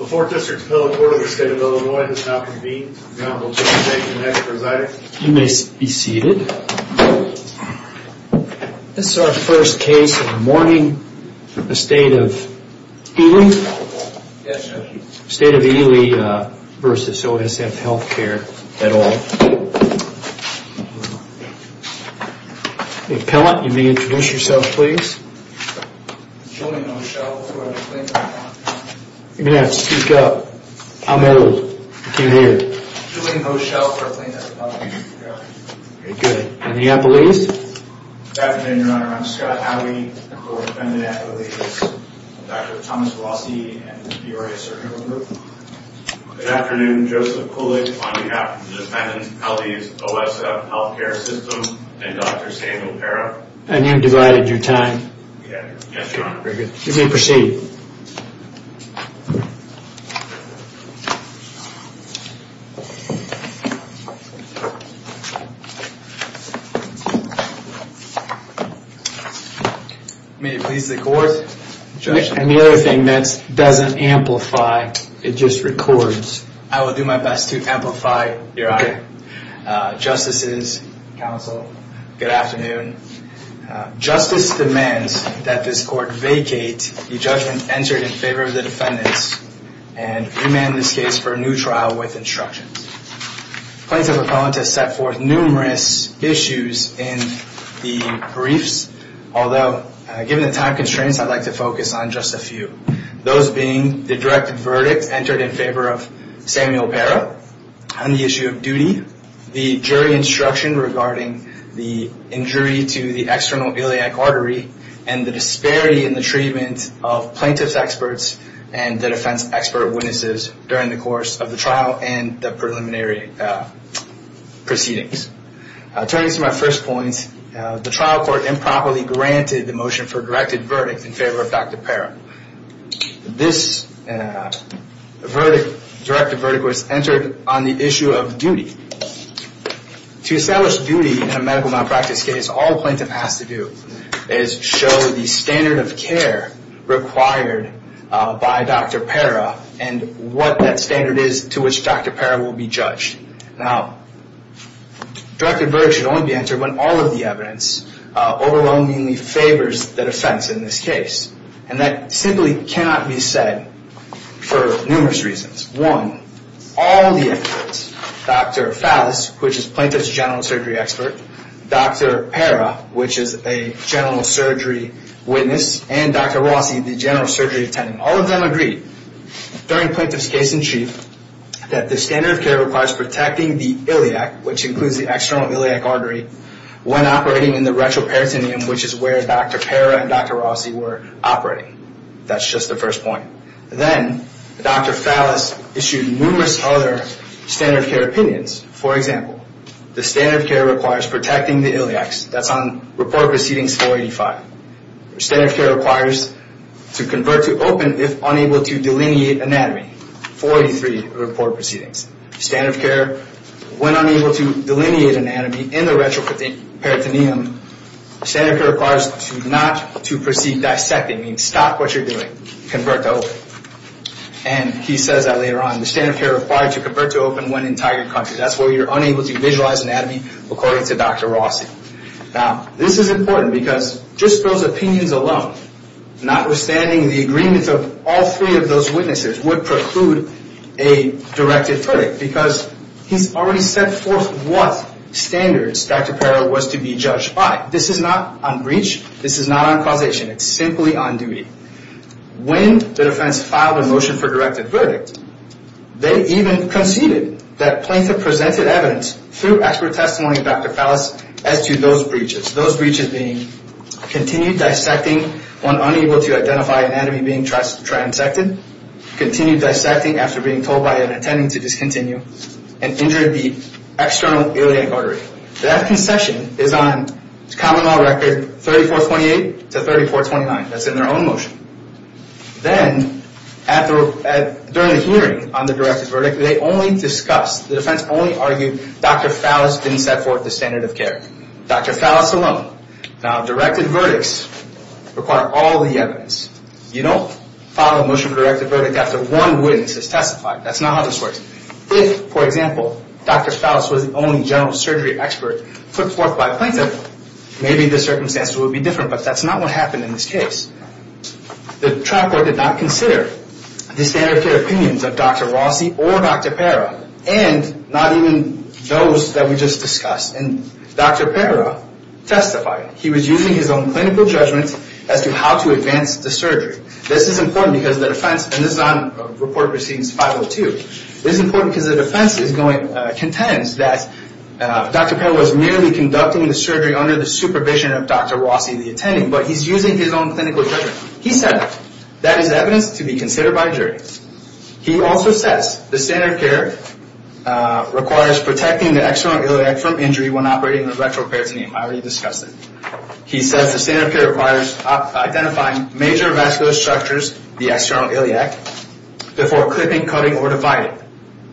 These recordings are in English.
You may be seated. This is our first case of mourning the State of Ely versus OSF Health Appellant, you may introduce yourself please. I'm going to have to speak up. I'm old. I can't hear. Good. In the Appalachians? Good afternoon, your honor. I'm Scott Howey. I'm a co-dependent at Ely's. I'm with Dr. Thomas Vlasi and the Bureau of Surgery. Good afternoon, Joseph Kulik on behalf of the Dependents, Ely's, OSF Healthcare System, and Dr. Shane O'Para. And you've divided your time. Yes, your honor. You may proceed. May it please the court. And the other thing, that doesn't amplify, it just records. I will do my best to amplify, your honor. Justices, counsel, good afternoon. Justice demands that this court vacate the judgment entered in favor of the defendants and remand this case for a new trial with instructions. Plaintiff's appellant has set forth numerous issues in the briefs. Although, given the time constraints, I'd like to focus on just a few. Those being the direct verdict entered in favor of Samuel O'Para on the issue of duty, the jury instruction regarding the injury to the external iliac artery, and the disparity in the treatment of plaintiff's experts and the defense expert witnesses during the course of the trial and the preliminary proceedings. Turning to my first point, the trial court improperly granted the motion for a directed verdict in favor of Dr. O'Para. This verdict, directed verdict, was entered on the issue of duty. To establish duty in a medical malpractice case, all a plaintiff has to do is show the standard of care required by Dr. O'Para, and what that standard is to which Dr. O'Para will be judged. Now, directed verdict should only be entered when all of the evidence overwhelmingly favors the defense in this case. And that simply cannot be said for numerous reasons. One, all the experts, Dr. Fallis, which is plaintiff's general surgery expert, Dr. Para, which is a general surgery witness, and Dr. Rossi, the general surgery attendant, all of them agreed during plaintiff's case-in-chief that the standard of care requires protecting the iliac, which includes the external iliac artery, when operating in the retroperitoneum, which is where Dr. Para and Dr. Rossi were operating. That's just the first point. Then, Dr. Fallis issued numerous other standard of care opinions. For example, the standard of care requires protecting the iliacs. That's on Report Proceedings 485. Standard of care requires to convert to open if unable to delineate anatomy, 483 of Report Proceedings. Standard of care, when unable to delineate anatomy in the retroperitoneum, standard of care requires to not to proceed dissecting, meaning stop what you're doing, convert to open. And he says that later on. The standard of care required to convert to open when in tiger cut. That's where you're unable to visualize anatomy, according to Dr. Rossi. Now, this is important because just those opinions alone, notwithstanding the agreements of all three of those witnesses, would preclude a directed verdict because he's already set forth what standards Dr. Para was to be judged by. This is not on breach. This is not on causation. It's simply on duty. When the defense filed a motion for directed verdict, they even conceded that Plaintiff presented evidence through expert testimony of Dr. Fallis as to those breaches, those breaches being continued dissecting when unable to identify anatomy being transected, continued dissecting after being told by an attending to discontinue, and injured the external iliac artery. That concession is on common law record 3428 to 3429. That's in their own motion. Then, during the hearing on the directed verdict, they only discussed, the defense only argued Dr. Fallis didn't set forth the standard of care. Dr. Fallis alone. Now, directed verdicts require all the evidence. You don't file a motion for directed verdict after one witness has testified. That's not how this works. If, for example, Dr. Fallis was the only general surgery expert put forth by Plaintiff, maybe the circumstances would be different, but that's not what happened in this case. The trial court did not consider the standard of care opinions of Dr. Rossi or Dr. Para, and not even those that we just discussed. And Dr. Para testified. He was using his own clinical judgment as to how to advance the surgery. This is important because the defense, and this is on Report Proceedings 502, this is important because the defense contends that Dr. Para was merely conducting the surgery under the supervision of Dr. Rossi, the attending, but he's using his own clinical judgment. He said that is evidence to be considered by a jury. He also says the standard of care requires protecting the external iliac from injury when operating with retroperitoneum. I already discussed it. He says the standard of care requires identifying major vascular structures, the external iliac, before clipping, cutting, or dividing.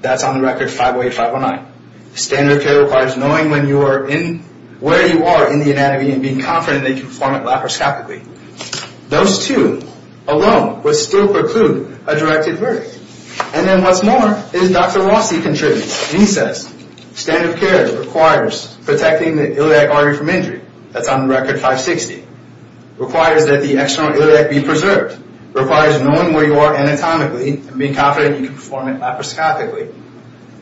That's on the record 508, 509. The standard of care requires knowing where you are in the anatomy and being confident that you can perform it laparoscopically. Those two alone would still preclude a directed verdict. And then what's more is Dr. Rossi contributes. He says standard of care requires protecting the iliac artery from injury. That's on the record 560. Requires that the external iliac be preserved. Requires knowing where you are anatomically and being confident you can perform it laparoscopically.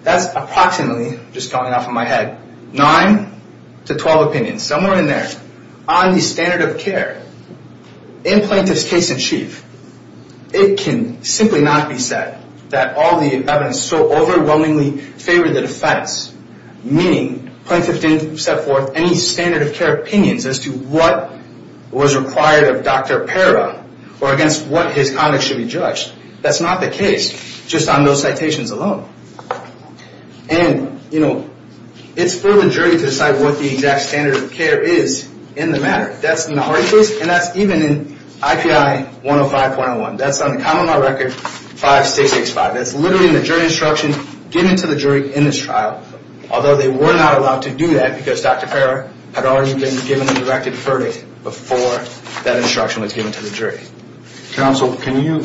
That's approximately, just going off of my head, 9 to 12 opinions, somewhere in there. On the standard of care, in plaintiff's case in chief, it can simply not be said that all the evidence so overwhelmingly favored the defense, meaning plaintiff didn't set forth any standard of care opinions as to what was required of Dr. Parra or against what his conduct should be judged. That's not the case, just on those citations alone. And, you know, it's for the jury to decide what the exact standard of care is in the matter. That's in the Hardy case and that's even in IPI 105.01. That's on the common law record 5665. That's literally in the jury instruction given to the jury in this trial. Although they were not allowed to do that because Dr. Parra had already been given a directed verdict before that instruction was given to the jury. Counsel, can you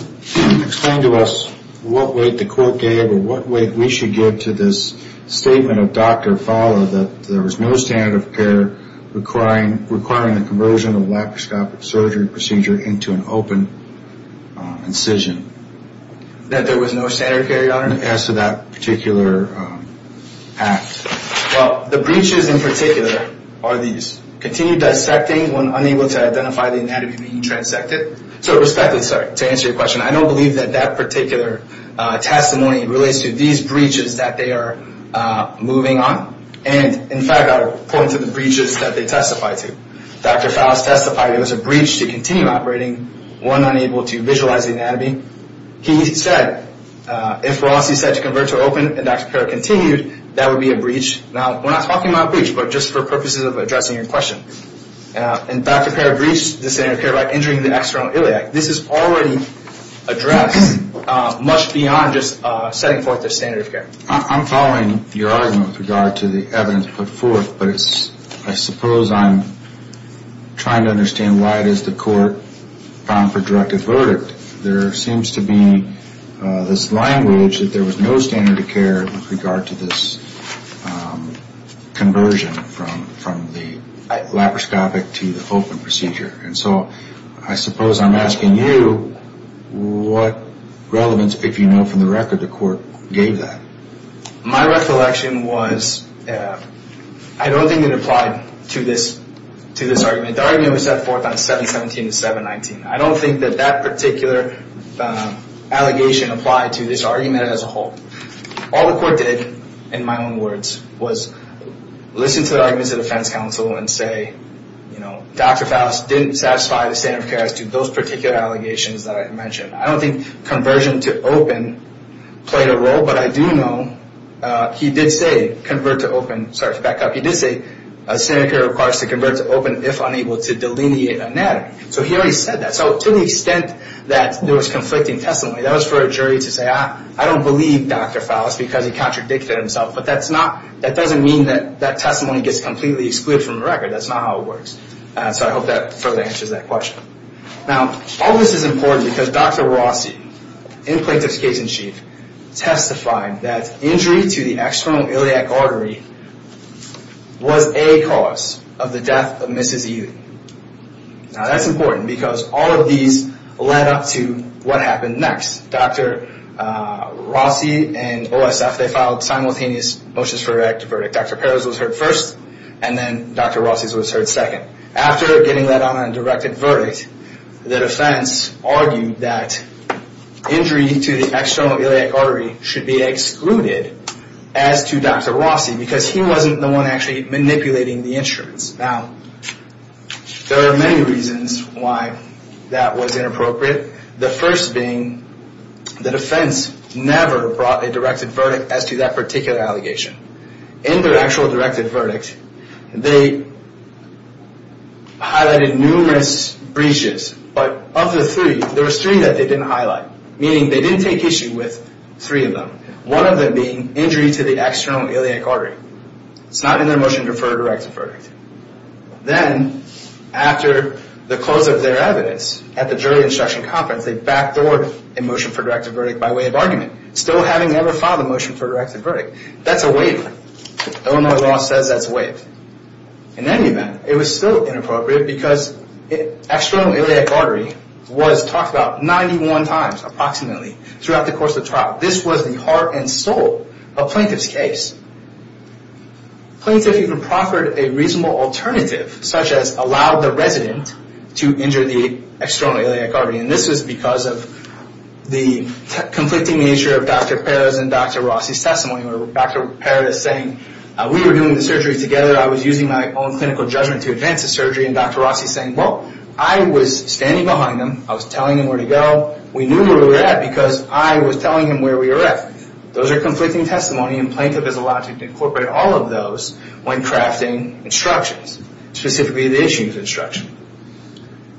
explain to us what weight the court gave or what weight we should give to this statement of Dr. Fala that there was no standard of care requiring the conversion of laparoscopic surgery procedure into an open incision? That there was no standard of care, Your Honor? As to that particular act. Well, the breaches in particular are these. Continue dissecting when unable to identify the anatomy being transected. So, respectfully, sorry, to answer your question, I don't believe that that particular testimony relates to these breaches that they are moving on. And, in fact, I would point to the breaches that they testify to. Dr. Fala testified it was a breach to continue operating when unable to visualize the anatomy. He said, if we're honestly set to convert to open, and Dr. Parra continued, that would be a breach. Now, we're not talking about a breach, but just for purposes of addressing your question. And Dr. Parra breached the standard of care by injuring the external iliac. This is already addressed much beyond just setting forth the standard of care. I'm following your argument with regard to the evidence put forth, but I suppose I'm trying to understand why it is the court found for directive verdict. There seems to be this language that there was no standard of care with regard to this conversion from the laparoscopic to the open procedure. And so I suppose I'm asking you what relevance, if you know from the record, the court gave that. My recollection was I don't think it applied to this argument. The argument was set forth on 717 and 719. I don't think that that particular allegation applied to this argument as a whole. All the court did, in my own words, was listen to the arguments of the defense counsel and say, you know, Dr. Foust didn't satisfy the standard of care as to those particular allegations that I had mentioned. I don't think conversion to open played a role, but I do know he did say standard of care requires to convert to open if unable to delineate anatomy. So he already said that. So to the extent that there was conflicting testimony, that was for a jury to say, I don't believe Dr. Foust because he contradicted himself. But that doesn't mean that that testimony gets completely excluded from the record. That's not how it works. So I hope that further answers that question. Now, all this is important because Dr. Rossi, in plaintiff's case in chief, testified that injury to the external iliac artery was a cause of the death of Mrs. Ely. Now, that's important because all of these led up to what happened next. Dr. Rossi and OSF, they filed simultaneous motions for a verdict. Dr. Perez was heard first, and then Dr. Rossi was heard second. After getting that on a directed verdict, the defense argued that injury to the external iliac artery should be excluded as to Dr. Rossi because he wasn't the one actually manipulating the insurance. Now, there are many reasons why that was inappropriate. The first being the defense never brought a directed verdict as to that particular allegation. In their actual directed verdict, they highlighted numerous breaches, but of the three, there was three that they didn't highlight, meaning they didn't take issue with three of them, one of them being injury to the external iliac artery. It's not in their motion for a directed verdict. Then, after the close of their evidence at the jury instruction conference, they backdoored a motion for a directed verdict by way of argument, still having never filed a motion for a directed verdict. That's a waive. Illinois law says that's a waive. In any event, it was still inappropriate because external iliac artery was talked about 91 times, approximately, throughout the course of the trial. This was the heart and soul of plaintiff's case. Plaintiff even proffered a reasonable alternative, such as allowed the resident to injure the external iliac artery, and this was because of the conflicting nature of Dr. Perez and Dr. Rossi's testimony. Dr. Perez saying, we were doing the surgery together, I was using my own clinical judgment to advance the surgery, and Dr. Rossi saying, well, I was standing behind him, I was telling him where to go, we knew where we were at because I was telling him where we were at. Those are conflicting testimony, and plaintiff is allowed to incorporate all of those when crafting instructions, specifically the issues instruction.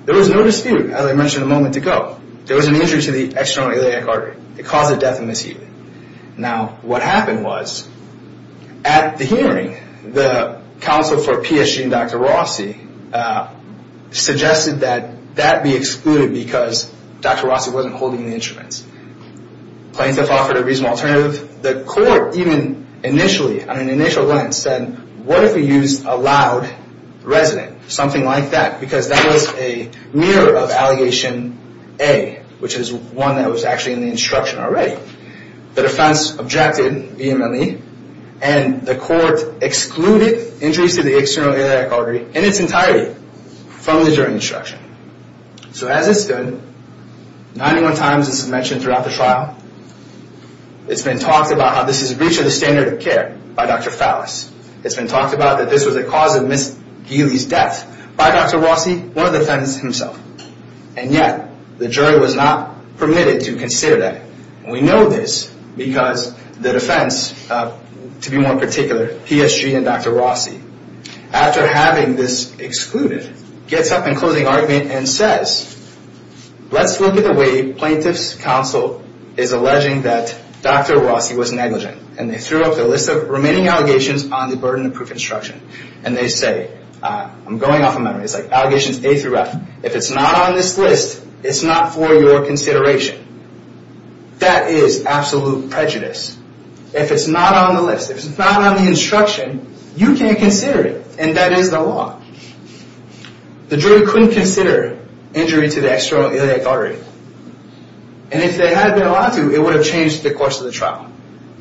There was no dispute, as I mentioned a moment ago. There was an injury to the external iliac artery. It caused a death and mishearing. Now, what happened was, at the hearing, the counsel for PSG and Dr. Rossi suggested that that be excluded because Dr. Rossi wasn't holding the instruments. Plaintiff offered a reasonable alternative. The court, even initially, on an initial glance, said, what if we used a loud resonant, something like that, because that was a mirror of allegation A, which is one that was actually in the instruction already. The defense objected vehemently, and the court excluded injuries to the external iliac artery in its entirety from the jury instruction. So as it stood, 91 times this is mentioned throughout the trial, it's been talked about how this is a breach of the standard of care by Dr. Fallis. It's been talked about that this was a cause of Ms. Geely's death by Dr. Rossi, one of the defendants himself. And yet, the jury was not permitted to consider that. We know this because the defense, to be more particular, PSG and Dr. Rossi, after having this excluded, gets up in closing argument and says, let's look at the way plaintiff's counsel is alleging that Dr. Rossi was negligent. And they threw up the list of remaining allegations on the burden of proof instruction. And they say, I'm going off a memory, it's like allegations A through F, if it's not on this list, it's not for your consideration. That is absolute prejudice. If it's not on the list, if it's not on the instruction, you can't consider it. And that is the law. The jury couldn't consider injury to the external iliac artery. And if they had been allowed to, it would have changed the course of the trial.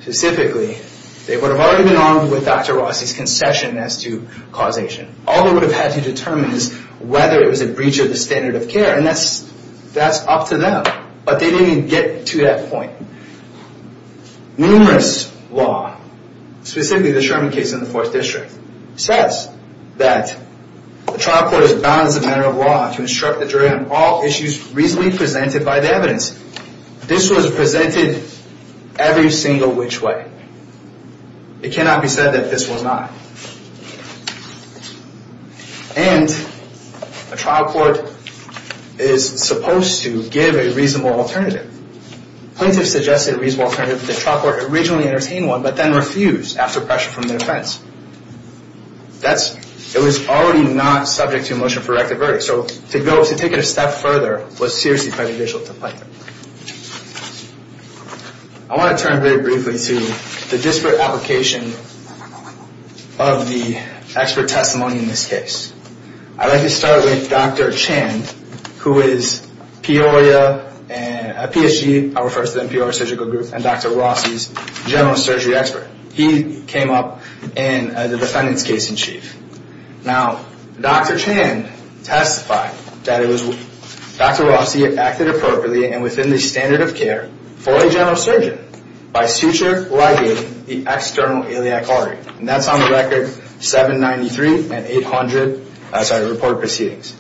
Specifically, they would have already been armed with Dr. Rossi's concession as to causation. All they would have had to determine is whether it was a breach of the standard of care. And that's up to them. But they didn't even get to that point. Numerous law, specifically the Sherman case in the 4th District, says that the trial court is bound as a matter of law to instruct the jury on all issues reasonably presented by the evidence. This was presented every single which way. It cannot be said that this was not. And a trial court is supposed to give a reasonable alternative. Plaintiffs suggested a reasonable alternative if the trial court originally entertained one, but then refused after pressure from the defense. It was already not subject to a motion for rectify. So to take it a step further was seriously prejudicial to the plaintiff. I want to turn very briefly to the disparate application of the expert testimony in this case. I'd like to start with Dr. Chan, who is a PSG, I'll refer to them as PSG, and Dr. Rossi's general surgery expert. He came up as the defendant's case in chief. Now, Dr. Chan testified that Dr. Rossi acted appropriately and within the standard of care for a general surgeon by suture ligating the external iliac artery. And that's on the record 793 and 800 report proceedings.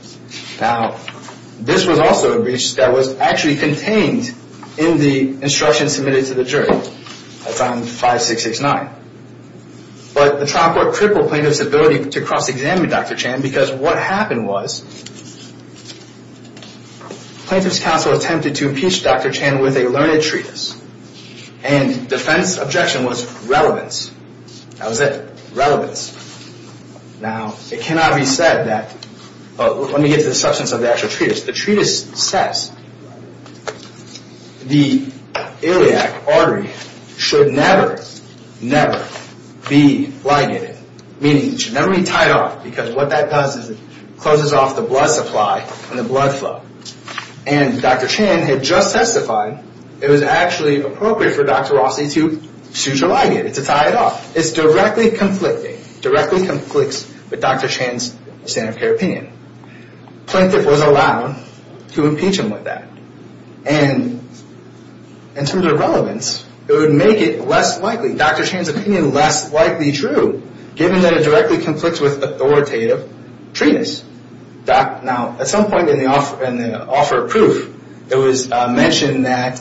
Now, this was also a breach that was actually contained in the instruction submitted to the jury. That's on 5669. But the trial court crippled plaintiff's ability to cross-examine Dr. Chan because what happened was plaintiff's counsel attempted to impeach Dr. Chan with a learned treatise. And defense objection was relevance. That was it, relevance. Now, it cannot be said that, let me get to the substance of the actual treatise. The treatise says the iliac artery should never, never be ligated, meaning it should never be tied off because what that does is it closes off the blood supply and the blood flow. And Dr. Chan had just testified it was actually appropriate for Dr. Rossi to suture ligate it, to tie it off. It's directly conflicting, directly conflicts with Dr. Chan's standard of care opinion. Plaintiff was allowed to impeach him with that. And in terms of relevance, it would make it less likely, Dr. Chan's opinion less likely true given that it directly conflicts with authoritative treatise. Now, at some point in the offer of proof, it was mentioned that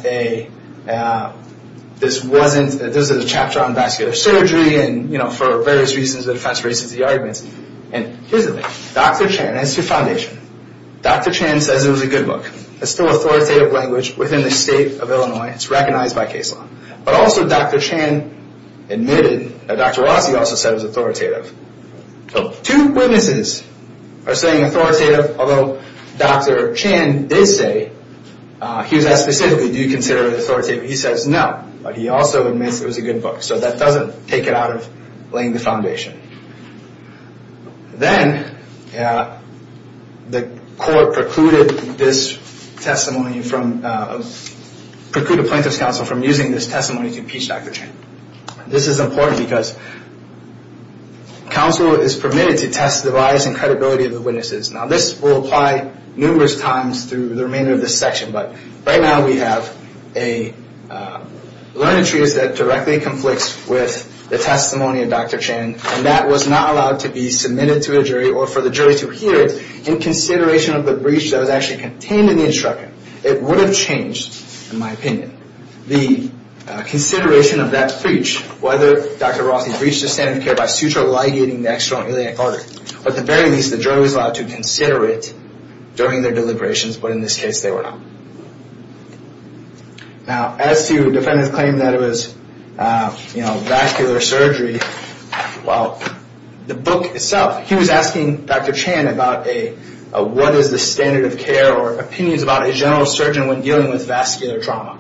this wasn't, this is a chapter on vascular surgery and, you know, for various reasons the defense raises the arguments. And here's the thing, Dr. Chan, as to foundation, Dr. Chan says it was a good book. It's still authoritative language within the state of Illinois. It's recognized by case law. But also Dr. Chan admitted, Dr. Rossi also said it was authoritative. So two witnesses are saying authoritative, although Dr. Chan did say, he was asked specifically, do you consider it authoritative? He says no, but he also admits it was a good book. So that doesn't take it out of laying the foundation. Then the court precluded this testimony from, precluded plaintiff's counsel from using this testimony to impeach Dr. Chan. This is important because counsel is permitted to test the bias and credibility of the witnesses. Now this will apply numerous times through the remainder of this section, but right now we have a learned treatise that directly conflicts with the testimony of Dr. Chan and that was not allowed to be submitted to a jury or for the jury to hear it in consideration of the breach that was actually contained in the instruction. It would have changed, in my opinion, the consideration of that breach, whether Dr. Rossi breached the standard of care by suture ligating the external iliac artery. But at the very least the jury was allowed to consider it during their deliberations, but in this case they were not. Now as to defendant's claim that it was vascular surgery, well the book itself, he was asking Dr. Chan about what is the standard of care or opinions about a general surgeon when dealing with vascular trauma.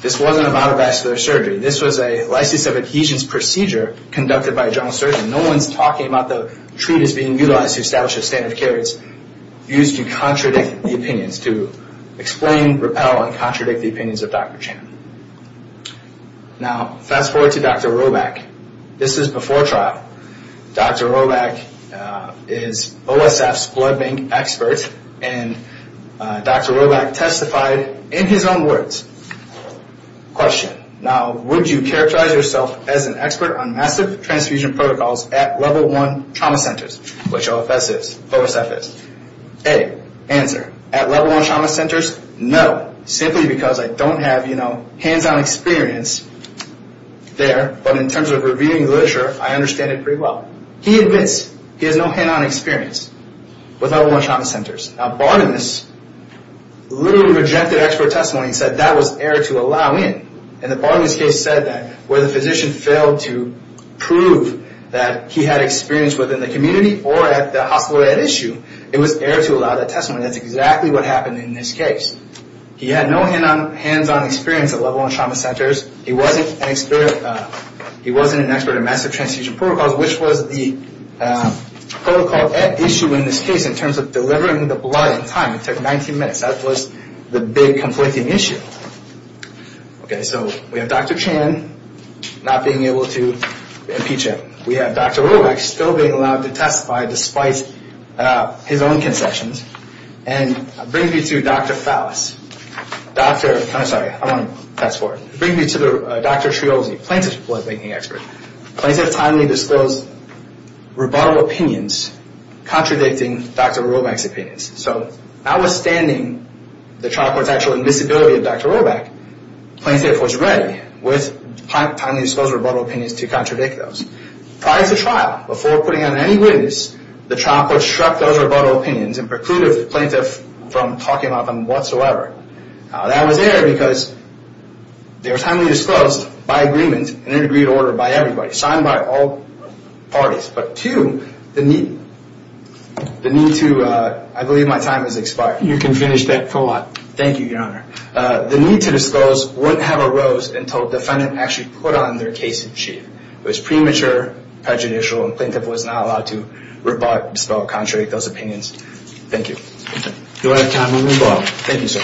This wasn't about a vascular surgery. This was a license of adhesions procedure conducted by a general surgeon. No one's talking about the treatise being utilized to establish a standard of care. It's used to contradict the opinions, to explain, repel, and contradict the opinions of Dr. Chan. Now fast forward to Dr. Roback. This is before trial. Dr. Roback is OSF's blood bank expert and Dr. Roback testified in his own words. Question, now would you characterize yourself as an expert on massive transfusion protocols at level one trauma centers, which OSF is? A, answer, at level one trauma centers, no, simply because I don't have hands-on experience there, but in terms of reviewing literature I understand it pretty well. He admits he has no hands-on experience with level one trauma centers. Now Bartonis literally rejected expert testimony and said that was error to allow in. And the Bartonis case said that where the physician failed to prove that he had experience within the community or at the hospital at issue, it was error to allow that testimony. That's exactly what happened in this case. He had no hands-on experience at level one trauma centers. He wasn't an expert in massive transfusion protocols, which was the protocol at issue in this case in terms of delivering the blood in time. It took 19 minutes. That was the big conflicting issue. Okay, so we have Dr. Chan not being able to impeach him. We have Dr. Romek still being allowed to testify despite his own concessions. And I bring you to Dr. Fowles. I'm sorry, I want to fast forward. I bring you to Dr. Triozzi, plaintiff's blood banking expert. Plaintiff's idly disclosed rebuttal opinions contradicting Dr. Romek's opinions. So notwithstanding the trial court's actual admissibility of Dr. Romek, plaintiff was ready with timely disclosed rebuttal opinions to contradict those. Prior to trial, before putting on any witness, the trial court struck those rebuttal opinions and precluded the plaintiff from talking about them whatsoever. That was error because they were timely disclosed by agreement and in agreed order by everybody, signed by all parties. But two, the need to, I believe my time has expired. You can finish that thought. Thank you, Your Honor. The need to disclose wouldn't have arose until the defendant actually put on their case sheet. It was premature, prejudicial, and the plaintiff was not allowed to rebut, dispel, or contradict those opinions. Thank you. You'll have time when we vote. Thank you, sir.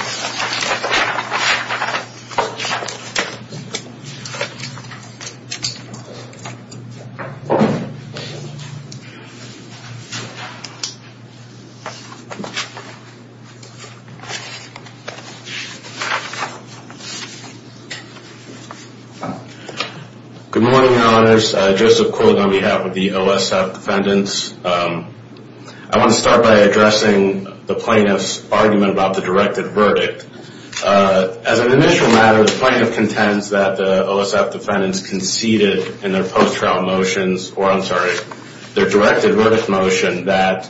Good morning, Your Honors. Joseph Quill on behalf of the OSF defendants. I want to start by addressing the plaintiff's argument about the directed verdict. As an initial matter, the plaintiff contends that the OSF defendants conceded in their post-trial motions or I'm sorry, their directed verdict motion, that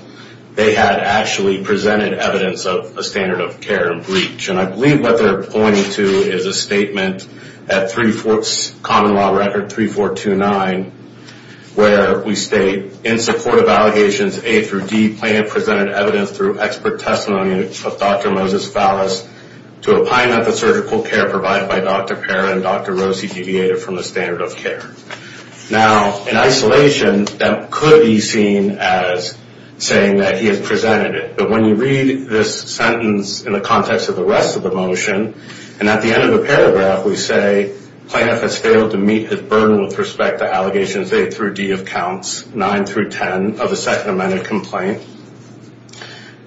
they had actually presented evidence of a standard of care and breach. And I believe what they're pointing to is a statement at Common Law Record 3429 where we state, in support of allegations A through D, the plaintiff presented evidence through expert testimony of Dr. Moses Phallus to opine that the surgical care provided by Dr. Parra and Dr. Rossi deviated from the standard of care. Now, in isolation, that could be seen as saying that he has presented it. But when you read this sentence in the context of the rest of the motion, and at the end of the paragraph we say, plaintiff has failed to meet his burden with respect to allegations A through D of counts 9 through 10 of the Second Amendment complaint.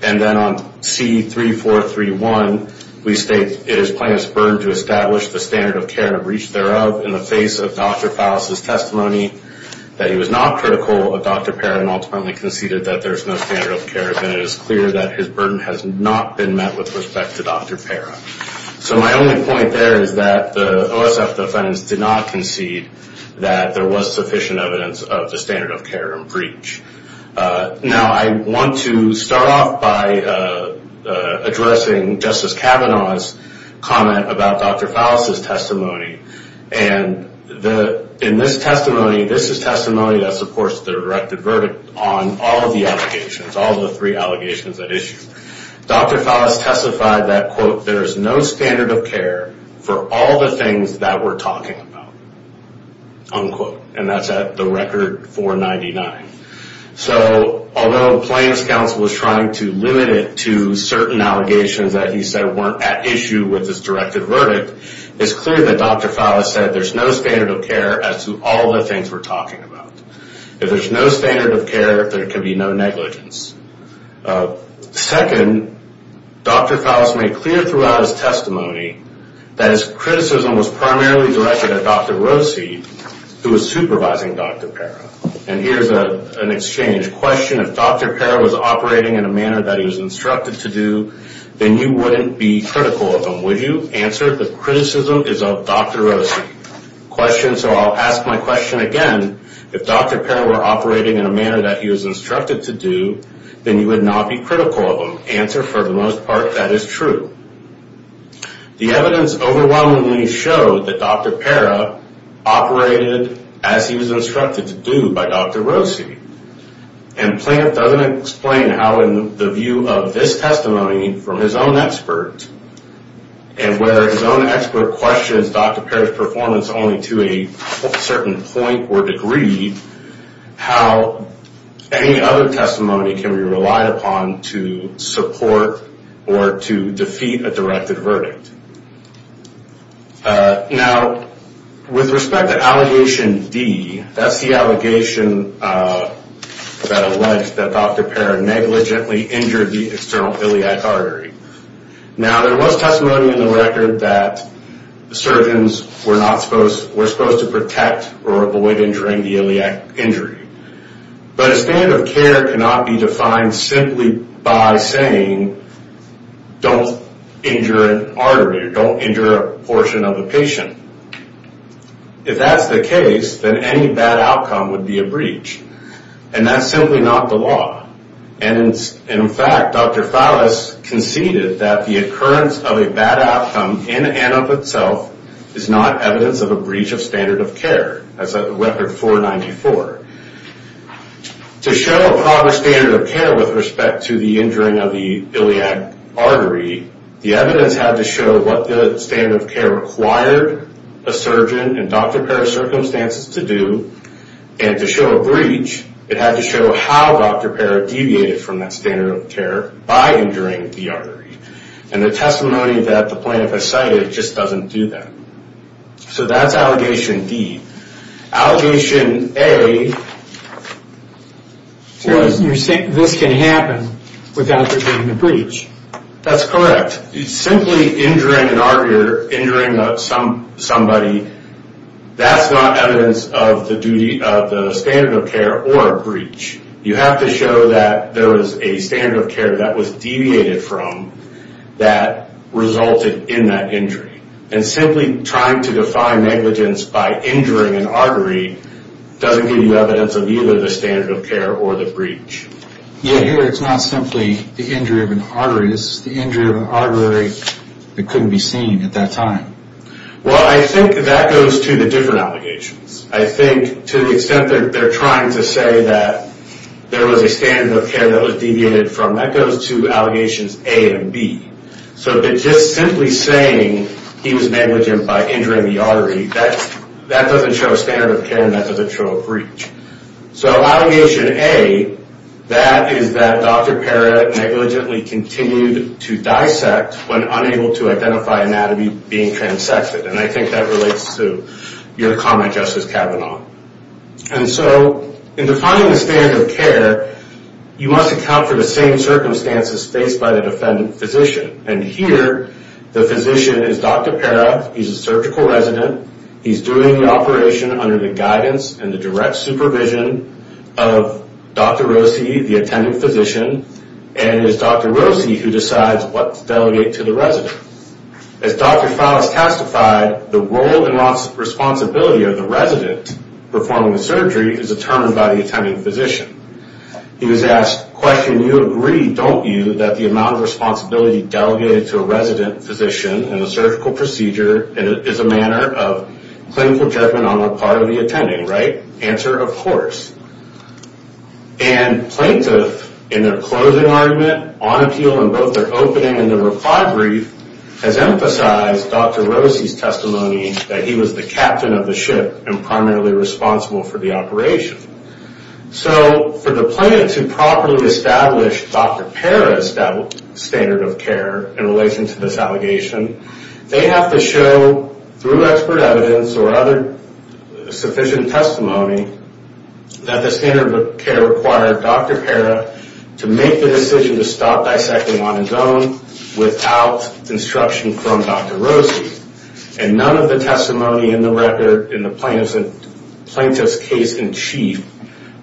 And then on C3431, we state, it is plaintiff's burden to establish the standard of care and breach thereof in the face of Dr. Phallus' testimony that he was not critical of Dr. Parra and ultimately conceded that there's no standard of care, then it is clear that his burden has not been met with respect to Dr. Parra. So my only point there is that the OSF defendants did not concede that there was sufficient evidence of the standard of care and breach. Now, I want to start off by addressing Justice Kavanaugh's comment about Dr. Phallus' testimony. And in this testimony, this is testimony that supports the directed verdict on all of the allegations, all the three allegations at issue. Dr. Phallus testified that, quote, there is no standard of care for all the things that we're talking about, unquote. And that's at the record 499. So although the Plaintiff's Counsel was trying to limit it to certain allegations that he said weren't at issue with his directed verdict, it's clear that Dr. Phallus said there's no standard of care as to all the things we're talking about. If there's no standard of care, there can be no negligence. Second, Dr. Phallus made clear throughout his testimony that his criticism was primarily directed at Dr. Rossi, who was supervising Dr. Parra. And here's an exchange question. If Dr. Parra was operating in a manner that he was instructed to do, then you wouldn't be critical of him, would you? Answer, the criticism is of Dr. Rossi. Question, so I'll ask my question again. If Dr. Parra were operating in a manner that he was instructed to do, then you would not be critical of him. Answer, for the most part, that is true. The evidence overwhelmingly showed that Dr. Parra operated as he was instructed to do by Dr. Rossi. And Plaintiff doesn't explain how in the view of this testimony from his own expert, and whether his own expert questions Dr. Parra's performance only to a certain point or degree, how any other testimony can be relied upon to support or to defeat a directed verdict. Now, with respect to allegation D, that's the allegation that alleged that Dr. Parra negligently injured the external iliac artery. Now, there was testimony in the record that surgeons were not supposed, were supposed to protect or avoid injuring the iliac injury. But a standard of care cannot be defined simply by saying, don't injure an artery or don't injure a portion of a patient. If that's the case, then any bad outcome would be a breach. And that's simply not the law. And in fact, Dr. Fallis conceded that the occurrence of a bad outcome in and of itself is not evidence of a breach of standard of care, as of Record 494. To show a proper standard of care with respect to the injuring of the iliac artery, the evidence had to show what the standard of care required a surgeon and Dr. Parra's circumstances to do. And to show a breach, it had to show how Dr. Parra deviated from that standard of care by injuring the artery. And the testimony that the plaintiff has cited just doesn't do that. So that's allegation D. Allegation A was... So you're saying this can happen without the breach? That's correct. Simply injuring an artery or injuring somebody, that's not evidence of the standard of care or a breach. You have to show that there was a standard of care that was deviated from that resulted in that injury. And simply trying to define negligence by injuring an artery doesn't give you evidence of either the standard of care or the breach. Yeah, here it's not simply the injury of an artery. This is the injury of an artery that couldn't be seen at that time. Well, I think that goes to the different allegations. I think to the extent that they're trying to say that there was a standard of care that was deviated from, that goes to allegations A and B. So just simply saying he was negligent by injuring the artery, that doesn't show a standard of care and that doesn't show a breach. So allegation A, that is that Dr. Parra negligently continued to dissect when unable to identify anatomy being transected. And I think that relates to your comment, Justice Kavanaugh. And so in defining the standard of care, you must account for the same circumstances faced by the defendant physician. And here the physician is Dr. Parra. He's a surgical resident. He's doing the operation under the guidance and the direct supervision of Dr. Rossi, the attending physician, and it's Dr. Rossi who decides what to delegate to the resident. As Dr. Fowles testified, the role and responsibility of the resident performing the surgery is determined by the attending physician. He was asked, question, you agree, don't you, that the amount of responsibility delegated to a resident physician in a surgical procedure is a matter of clinical judgment on the part of the attending, right? Answer, of course. And plaintiff, in their closing argument, on appeal in both their opening and their reply brief, has emphasized Dr. Rossi's testimony that he was the captain of the ship and primarily responsible for the operation. So for the plaintiff to properly establish Dr. Parra's standard of care in relation to this allegation, they have to show, through expert evidence or other sufficient testimony, that the standard of care required Dr. Parra to make the decision to stop dissecting on his own without instruction from Dr. Rossi. And none of the testimony in the record in the plaintiff's case in chief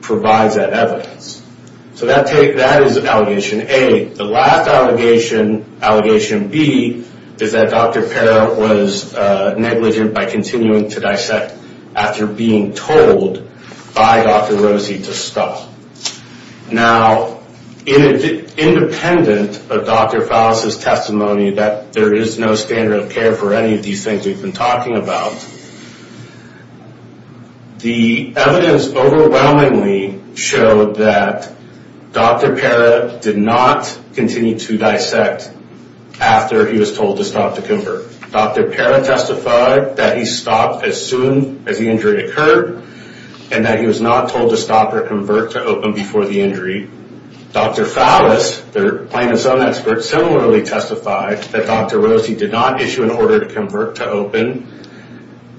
provides that evidence. So that is allegation A. The last allegation, allegation B, is that Dr. Parra was negligent by continuing to dissect after being told by Dr. Rossi to stop. Now, independent of Dr. Fowles' testimony that there is no standard of care for any of these things we've been talking about, the evidence overwhelmingly showed that Dr. Parra did not continue to dissect after he was told to stop to convert. Dr. Parra testified that he stopped as soon as the injury occurred and that he was not told to stop or convert to open before the injury. Dr. Fowles, the plaintiff's own expert, similarly testified that Dr. Rossi did not issue an order to convert to open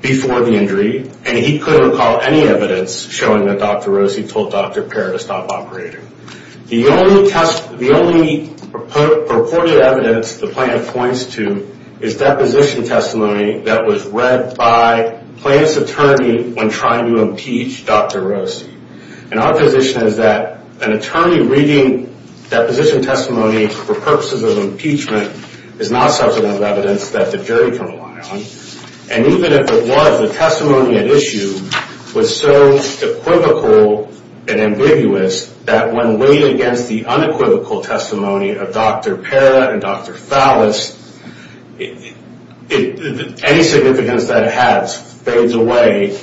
before the injury, and he couldn't recall any evidence showing that Dr. Rossi told Dr. Parra to stop operating. The only purported evidence the plaintiff points to is deposition testimony that was read by the plaintiff's attorney when trying to impeach Dr. Rossi. And our position is that an attorney reading deposition testimony for purposes of impeachment is not substantive evidence that the jury can rely on. And even if it was, the testimony at issue was so equivocal and ambiguous that when weighed against the unequivocal testimony of Dr. Parra and Dr. Fowles, any significance that it has fades away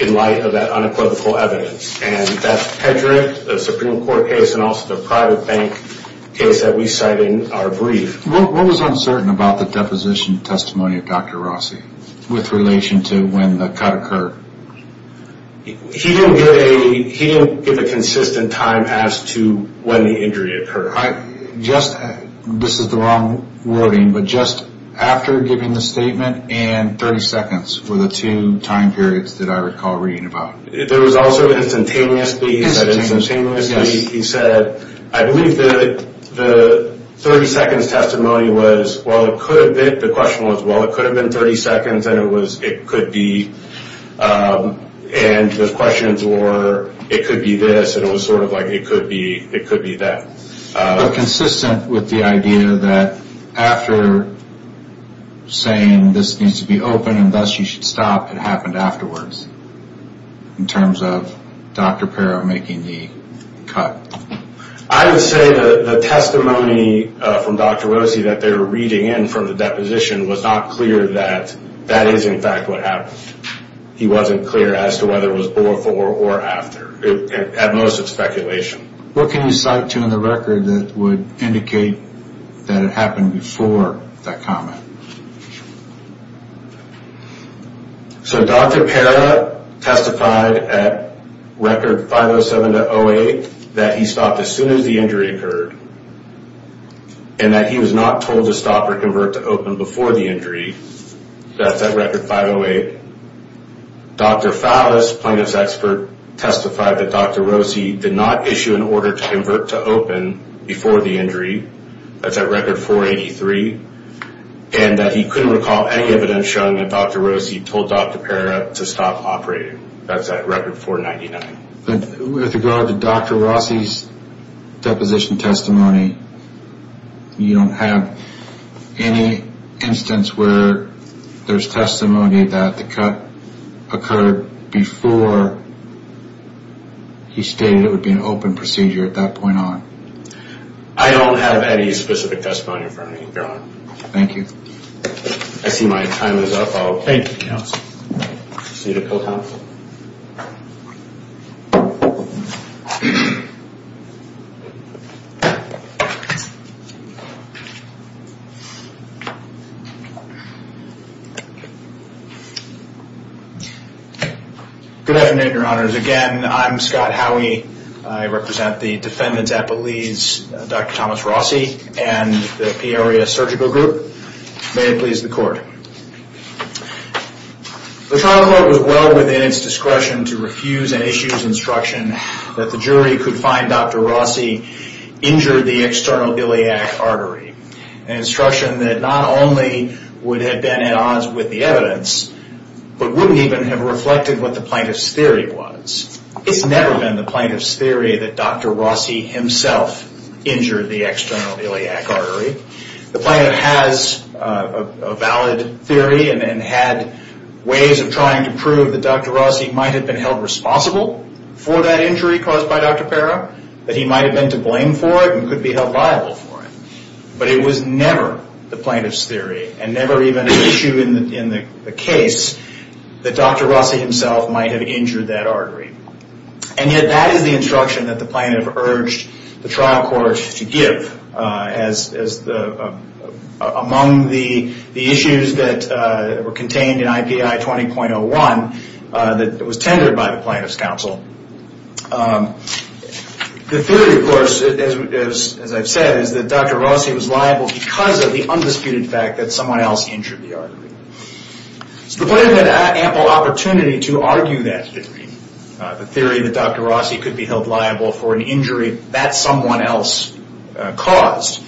in light of that unequivocal evidence. And that's Pedrick, the Supreme Court case, and also the private bank case that we cite in our brief. What was uncertain about the deposition testimony of Dr. Rossi with relation to when the cut occurred? He didn't give a consistent time as to when the injury occurred. This is the wrong wording, but just after giving the statement and 30 seconds were the two time periods that I recall reading about. There was also instantaneously. Instantaneously, yes. He said, I believe the 30 seconds testimony was, well, it could have been, I think the question was, well, it could have been 30 seconds, and it could be, and the questions were, it could be this, and it was sort of like, it could be that. But consistent with the idea that after saying this needs to be open and thus you should stop, it happened afterwards in terms of Dr. Parra making the cut. I would say the testimony from Dr. Rossi that they were reading in from the deposition was not clear that that is in fact what happened. He wasn't clear as to whether it was before or after. At most it's speculation. What can you cite to in the record that would indicate that it happened before that comment? So Dr. Parra testified at record 507-08 that he stopped as soon as the injury occurred and that he was not told to stop or convert to open before the injury. That's at record 508. Dr. Fallas, plaintiff's expert, testified that Dr. Rossi did not issue an order to convert to open before the injury. That's at record 483. And that he couldn't recall any evidence showing that Dr. Rossi told Dr. Parra to stop operating. That's at record 499. With regard to Dr. Rossi's deposition testimony, you don't have any instance where there's testimony that the cut occurred before he stated it would be an open procedure at that point on? I don't have any specific testimony in front of me, Your Honor. Thank you. I see my time is up. Thank you, counsel. See the bill, counsel. Good afternoon, Your Honors. Again, I'm Scott Howey. I represent the defendants at Belize, Dr. Thomas Rossi and the Peoria Surgical Group. May it please the Court. The trial court was well within its discretion to refuse an issues instruction that the jury could find Dr. Rossi injured the external iliac artery, an instruction that not only would have been at odds with the evidence but wouldn't even have reflected what the plaintiff's theory was. It's never been the plaintiff's theory that Dr. Rossi himself injured the external iliac artery. The plaintiff has a valid theory and had ways of trying to prove that Dr. Rossi might have been held responsible for that injury caused by Dr. Parra, that he might have been to blame for it and could be held liable for it. But it was never the plaintiff's theory and never even an issue in the case that Dr. Rossi himself might have injured that artery. And yet that is the instruction that the plaintiff urged the trial court to give among the issues that were contained in IPI 20.01 that was tendered by the plaintiff's counsel. The theory, of course, as I've said, is that Dr. Rossi was liable because of the undisputed fact that someone else injured the artery. So the plaintiff had ample opportunity to argue that theory, the theory that Dr. Rossi could be held liable for an injury that someone else caused.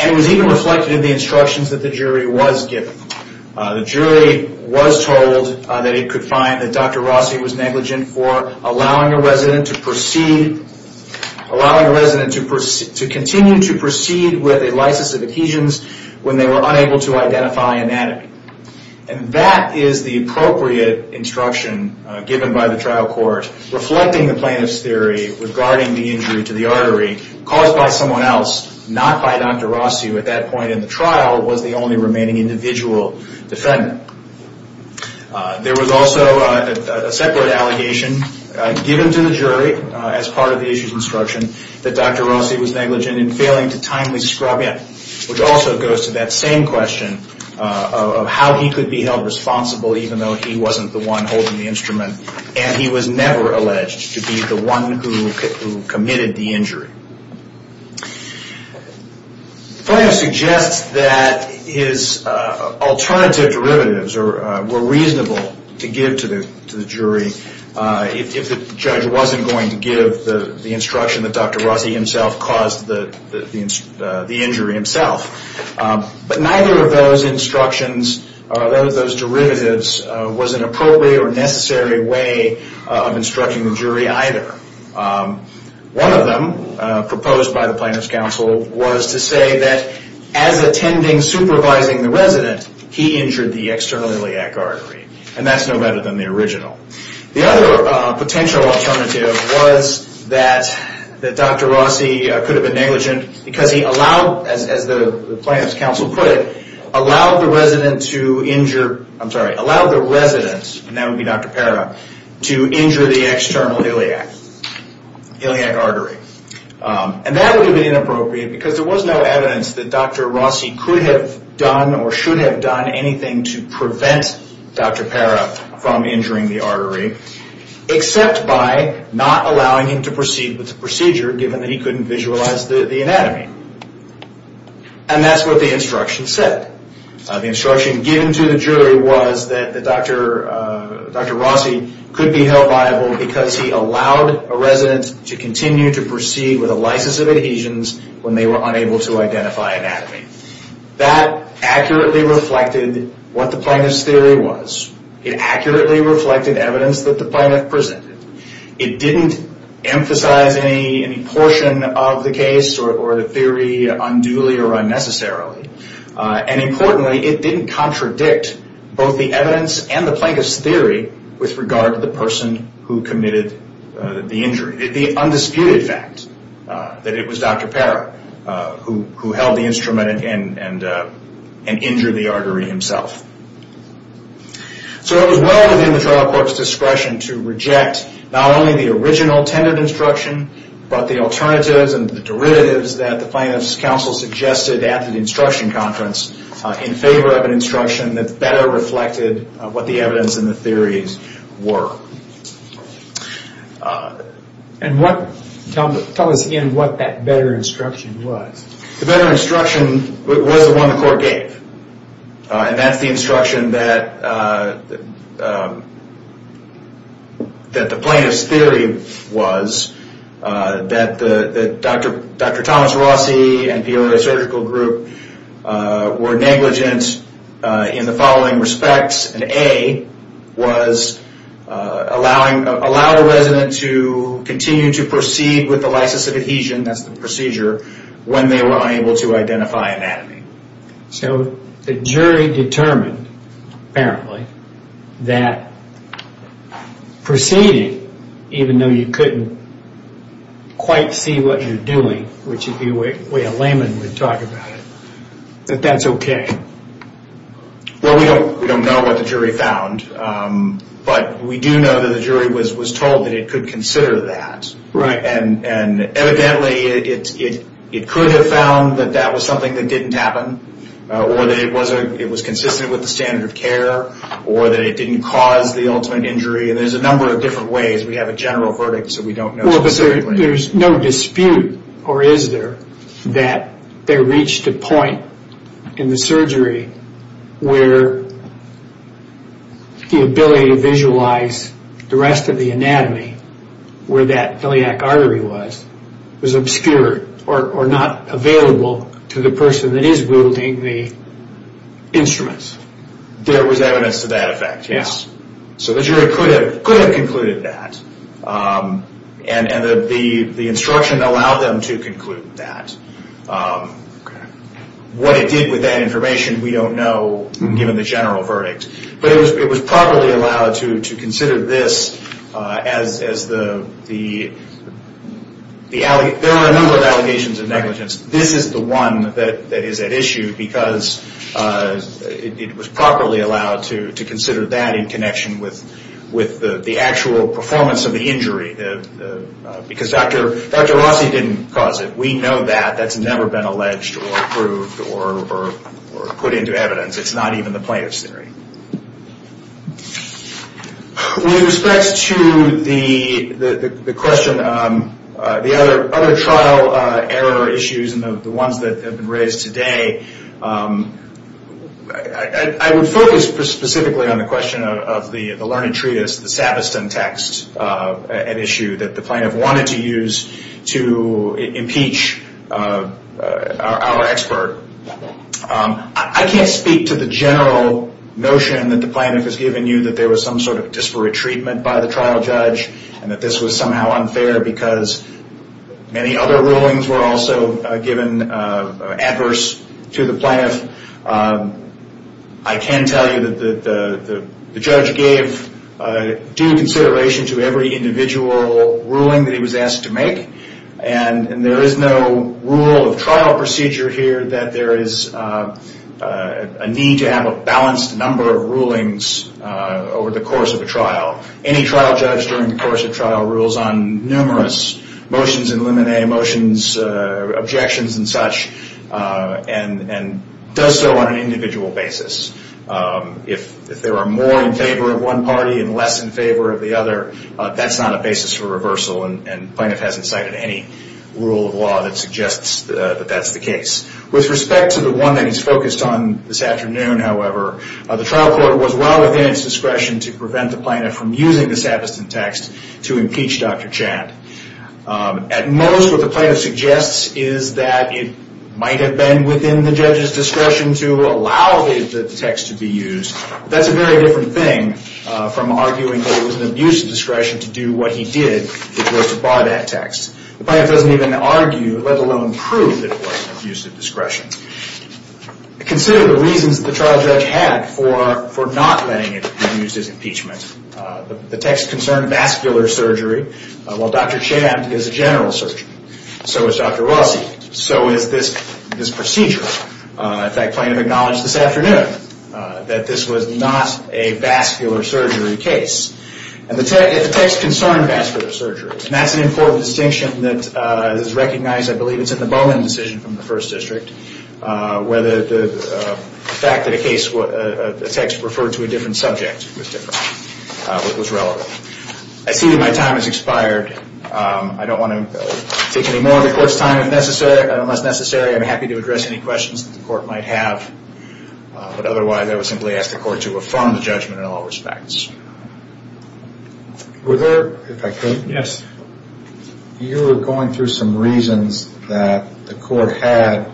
And it was even reflected in the instructions that the jury was given. The jury was told that it could find that Dr. Rossi was negligent for allowing a resident to proceed, allowing a resident to continue to proceed with a lysis of adhesions when they were unable to identify anatomy. And that is the appropriate instruction given by the trial court, reflecting the plaintiff's theory regarding the injury to the artery caused by someone else, not by Dr. Rossi who at that point in the trial was the only remaining individual defendant. There was also a separate allegation given to the jury as part of the issues instruction that Dr. Rossi was negligent in failing to timely scrub in, which also goes to that same question of how he could be held responsible even though he wasn't the one holding the instrument and he was never alleged to be the one who committed the injury. The plaintiff suggests that his alternative derivatives were reasonable to give to the jury if the judge wasn't going to give the instruction that Dr. Rossi himself caused the injury himself. But neither of those instructions or those derivatives was an appropriate or necessary way of instructing the jury either. One of them proposed by the plaintiff's counsel was to say that as attending supervising the resident, he injured the external iliac artery and that's no better than the original. The other potential alternative was that Dr. Rossi could have been negligent because he allowed, as the plaintiff's counsel put it, allowed the resident to injure, I'm sorry, allowed the resident, and that would be Dr. Parra, to injure the external iliac artery. And that would have been inappropriate because there was no evidence that Dr. Rossi could have done or should have done anything to prevent Dr. Parra from injuring the artery except by not allowing him to proceed with the procedure given that he couldn't visualize the anatomy. And that's what the instruction said. The instruction given to the jury was that Dr. Rossi could be held liable because he allowed a resident to continue to proceed with a license of adhesions when they were unable to identify anatomy. That accurately reflected what the plaintiff's theory was. It accurately reflected evidence that the plaintiff presented. It didn't emphasize any portion of the case or the theory unduly or unnecessarily. And importantly, it didn't contradict both the evidence and the plaintiff's theory with regard to the person who committed the injury. The undisputed fact that it was Dr. Parra who held the instrument and injured the artery himself. So it was well within the trial court's discretion to reject not only the original tendered instruction, but the alternatives and the derivatives that the plaintiff's counsel suggested at the instruction conference in favor of an instruction that better reflected what the evidence and the theories were. And tell us again what that better instruction was. The better instruction was the one the court gave. And that's the instruction that the plaintiff's theory was that Dr. Thomas Rossi and Peoria Surgical Group were negligent in the following respects. And A was allow a resident to continue to proceed with the license of adhesion, that's the procedure, when they were unable to identify anatomy. So the jury determined, apparently, that proceeding, even though you couldn't quite see what you're doing, which is the way a layman would talk about it, that that's okay. Well, we don't know what the jury found, but we do know that the jury was told that it could consider that. Right. And evidently, it could have found that that was something that didn't happen, or that it was consistent with the standard of care, or that it didn't cause the ultimate injury. And there's a number of different ways. We have a general verdict, so we don't know specifically. Well, but there's no dispute, or is there, that there reached a point in the surgery where the ability to visualize the rest of the anatomy, where that iliac artery was, was obscured, or not available to the person that is wielding the instruments? There was evidence to that effect, yes. So the jury could have concluded that. And the instruction allowed them to conclude that. What it did with that information, we don't know, given the general verdict. But it was properly allowed to consider this as the, there are a number of allegations of negligence. This is the one that is at issue, because it was properly allowed to consider that in connection with the actual performance of the injury. Because Dr. Rossi didn't cause it. We know that. That's never been alleged, or approved, or put into evidence. It's not even the plaintiff's theory. With respect to the question, the other trial error issues, and the ones that have been raised today, I would focus specifically on the question of the learning treatise, the Savastan text, an issue that the plaintiff wanted to use to impeach our expert. I can't speak to the general notion that the plaintiff has given you, that there was some sort of disparate treatment by the trial judge, and that this was somehow unfair, because many other rulings were also given adverse to the plaintiff. I can tell you that the judge gave due consideration to every individual ruling that he was asked to make. There is no rule of trial procedure here, that there is a need to have a balanced number of rulings over the course of a trial. Any trial judge during the course of trial rules on numerous motions in limine, motions, objections, and such, and does so on an individual basis. If there are more in favor of one party, and less in favor of the other, that's not a basis for reversal, and the plaintiff hasn't cited any rule of law that suggests that that's the case. With respect to the one that he's focused on this afternoon, however, the trial court was well within its discretion to prevent the plaintiff from using the Savastan text to impeach Dr. Chand. At most, what the plaintiff suggests is that it might have been within the judge's discretion to allow the text to be used. That's a very different thing from arguing that it was an abuse of discretion to do what he did, which was to buy that text. The plaintiff doesn't even argue, let alone prove, that it was an abuse of discretion. Consider the reasons that the trial judge had for not letting him use his impeachment. The text concerned vascular surgery, while Dr. Chand is a general surgeon. So is Dr. Rossi. So is this procedure. In fact, the plaintiff acknowledged this afternoon that this was not a vascular surgery case. And the text concerned vascular surgery, and that's an important distinction that is recognized, I believe it's in the Bowen decision from the First District, where the fact that a text referred to a different subject was relevant. I see that my time has expired. I don't want to take any more of the court's time unless necessary. I'm happy to address any questions that the court might have. But otherwise, I would simply ask the court to affirm the judgment in all respects. Were there, if I could? Yes. You were going through some reasons that the court had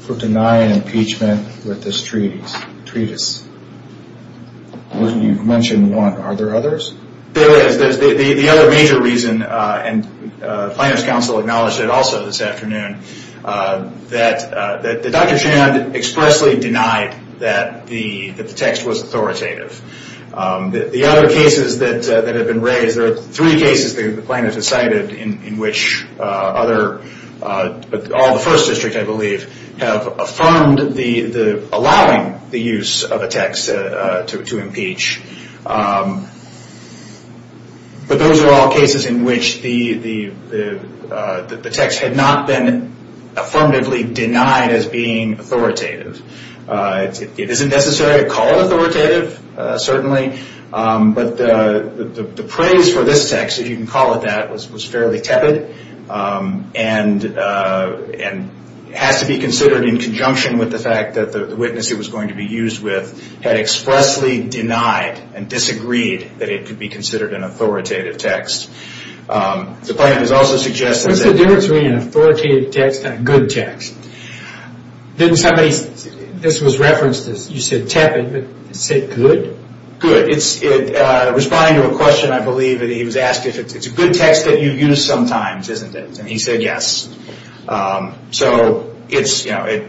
for denying impeachment with this treatise. You've mentioned one. Are there others? There is. The other major reason, and the plaintiff's counsel acknowledged it also this afternoon, that Dr. Chand expressly denied that the text was authoritative. The other cases that have been raised, there are three cases the plaintiff has cited in which other, all the First District, I believe, have affirmed allowing the use of a text to impeach. But those are all cases in which the text had not been affirmatively denied as being authoritative. It isn't necessary to call it authoritative, certainly, but the praise for this text, if you can call it that, was fairly tepid and has to be considered in conjunction with the fact that the witness it was going to be used with had expressly denied and disagreed that it could be considered an authoritative text. The plaintiff has also suggested that- What's the difference between an authoritative text and a good text? Didn't somebody, this was referenced as you said tepid, but is it good? Good. Responding to a question, I believe, he was asked if it's a good text that you use sometimes, isn't it? And he said yes. So it's, you know,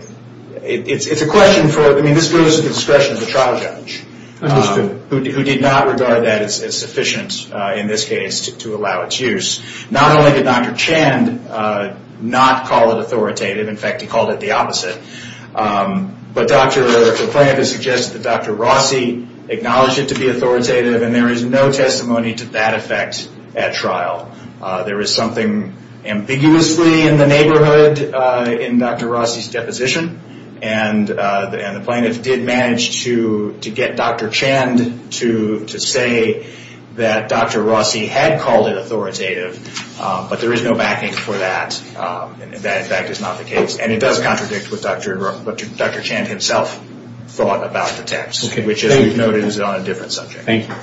it's a question for, I mean, this goes to the discretion of the trial judge. Understood. Who did not regard that as sufficient in this case to allow its use. Not only did Dr. Chand not call it authoritative, in fact he called it the opposite, but the plaintiff has suggested that Dr. Rossi acknowledged it to be authoritative and there is no testimony to that effect at trial. There is something ambiguously in the neighborhood in Dr. Rossi's deposition and the plaintiff did manage to get Dr. Chand to say that Dr. Rossi had called it authoritative but there is no backing for that and that in fact is not the case and it does contradict what Dr. Chand himself thought about the text, which as we've noted is on a different subject. Thank you.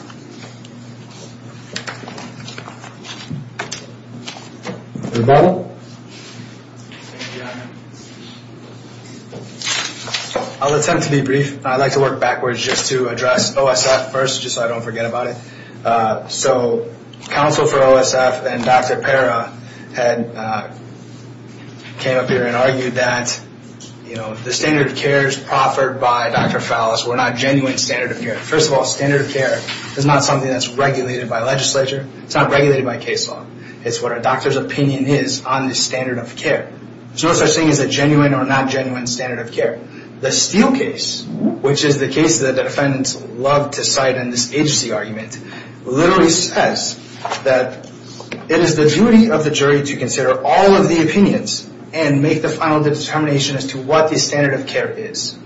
Rebuttal. I'll attempt to be brief. I'd like to work backwards just to address OSF first just so I don't forget about it. So counsel for OSF and Dr. Parra came up here and argued that, you know, the standard of care is proffered by Dr. Fallis. We're not genuine standard of care. First of all, standard of care is not something that's regulated by legislature. It's not regulated by case law. It's what a doctor's opinion is on the standard of care. There's no such thing as a genuine or not genuine standard of care. The Steele case, which is the case that the defendants love to cite in this agency argument, literally says that it is the duty of the jury to consider all of the opinions and make the final determination as to what the standard of care is.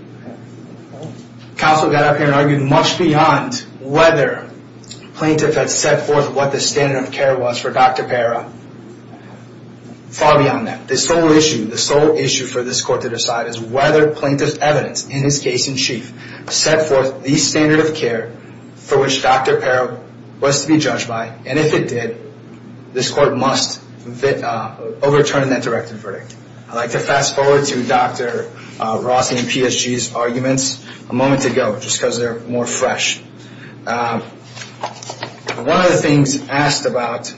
Counsel got up here and argued much beyond whether the plaintiff had set forth what the standard of care was for Dr. Parra, far beyond that. The sole issue, the sole issue for this court to decide is whether plaintiff's evidence in this case in chief set forth the standard of care for which Dr. Parra was to be judged by, and if it did, this court must overturn that directive verdict. I'd like to fast forward to Dr. Rossi and PSG's arguments a moment ago just because they're more fresh. One of the things asked about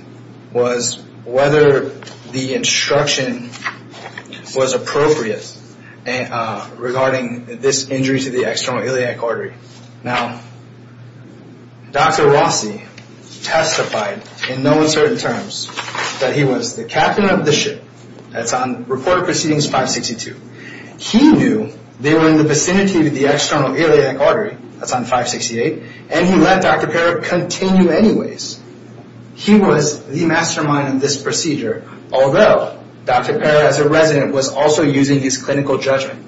was whether the instruction was appropriate regarding this injury to the external iliac artery. Now, Dr. Rossi testified in no uncertain terms that he was the captain of the ship. That's on Report of Proceedings 562. He knew they were in the vicinity of the external iliac artery, that's on 568, and he let Dr. Parra continue anyways. He was the mastermind of this procedure, although Dr. Parra, as a resident, was also using his clinical judgment.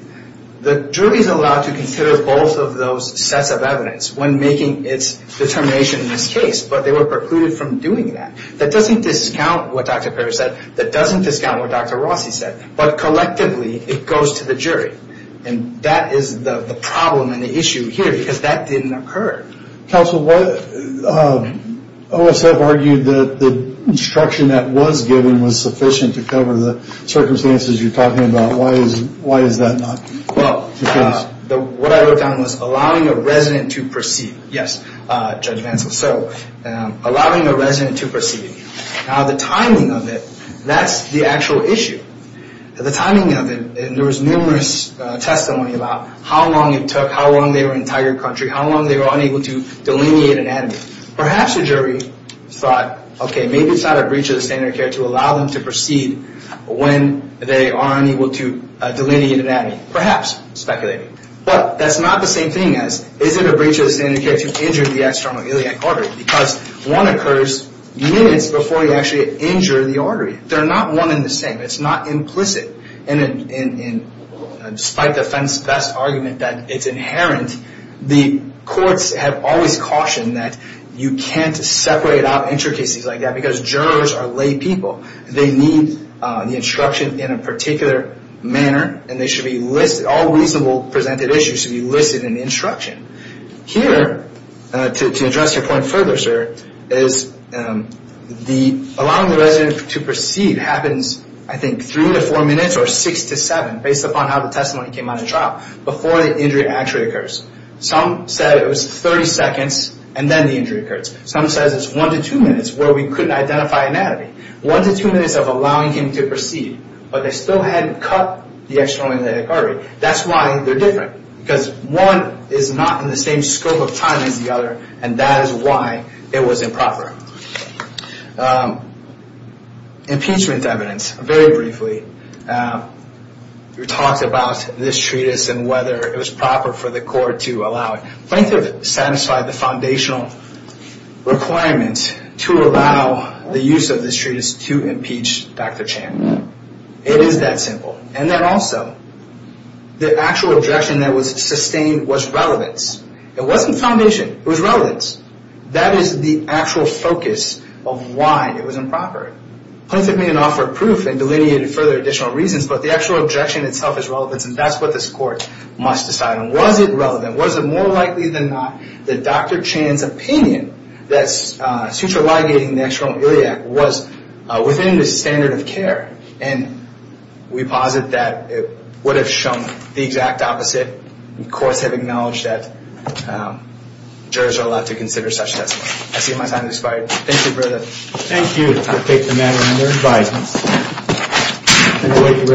The jury's allowed to consider both of those sets of evidence when making its determination in this case, but they were precluded from doing that. That doesn't discount what Dr. Parra said. That doesn't discount what Dr. Rossi said. But collectively, it goes to the jury. And that is the problem and the issue here, because that didn't occur. Counsel, OSF argued that the instruction that was given was sufficient to cover the circumstances you're talking about. Why is that not the case? Well, what I looked at was allowing a resident to proceed. Now, the timing of it, that's the actual issue. The timing of it, there was numerous testimony about how long it took, how long they were in tiger country, how long they were unable to delineate anatomy. Perhaps the jury thought, okay, maybe it's not a breach of the standard of care to allow them to proceed when they are unable to delineate anatomy. Perhaps, speculating. But that's not the same thing as, is it a breach of the standard of care to injure the external iliac artery? Because one occurs minutes before you actually injure the artery. They're not one and the same. It's not implicit. Despite the best argument that it's inherent, the courts have always cautioned that you can't separate out injured cases like that, because jurors are lay people. They need the instruction in a particular manner, and they should be listed, all reasonable presented issues should be listed in the instruction. Here, to address your point further, sir, is allowing the resident to proceed happens, I think, three to four minutes or six to seven, based upon how the testimony came out in trial, before the injury actually occurs. Some said it was 30 seconds, and then the injury occurs. Some said it's one to two minutes, where we couldn't identify anatomy. One to two minutes of allowing him to proceed, but they still hadn't cut the external iliac artery. That's why they're different, because one is not in the same scope of time as the other, and that is why it was improper. Impeachment evidence. Very briefly, we talked about this treatise and whether it was proper for the court to allow it. Plaintiff satisfied the foundational requirement to allow the use of this treatise to impeach Dr. Chan. It is that simple. And then also, the actual objection that was sustained was relevance. It wasn't foundation, it was relevance. That is the actual focus of why it was improper. Plaintiff may have offered proof and delineated further additional reasons, but the actual objection itself is relevance, and that's what this court must decide on. Was it relevant? Was it more likely than not that Dr. Chan's opinion that suture ligating the external iliac was within the standard of care? And we posit that it would have shown the exact opposite. Courts have acknowledged that jurors are allowed to consider such testimonies. I see my time has expired. Thank you, Brother.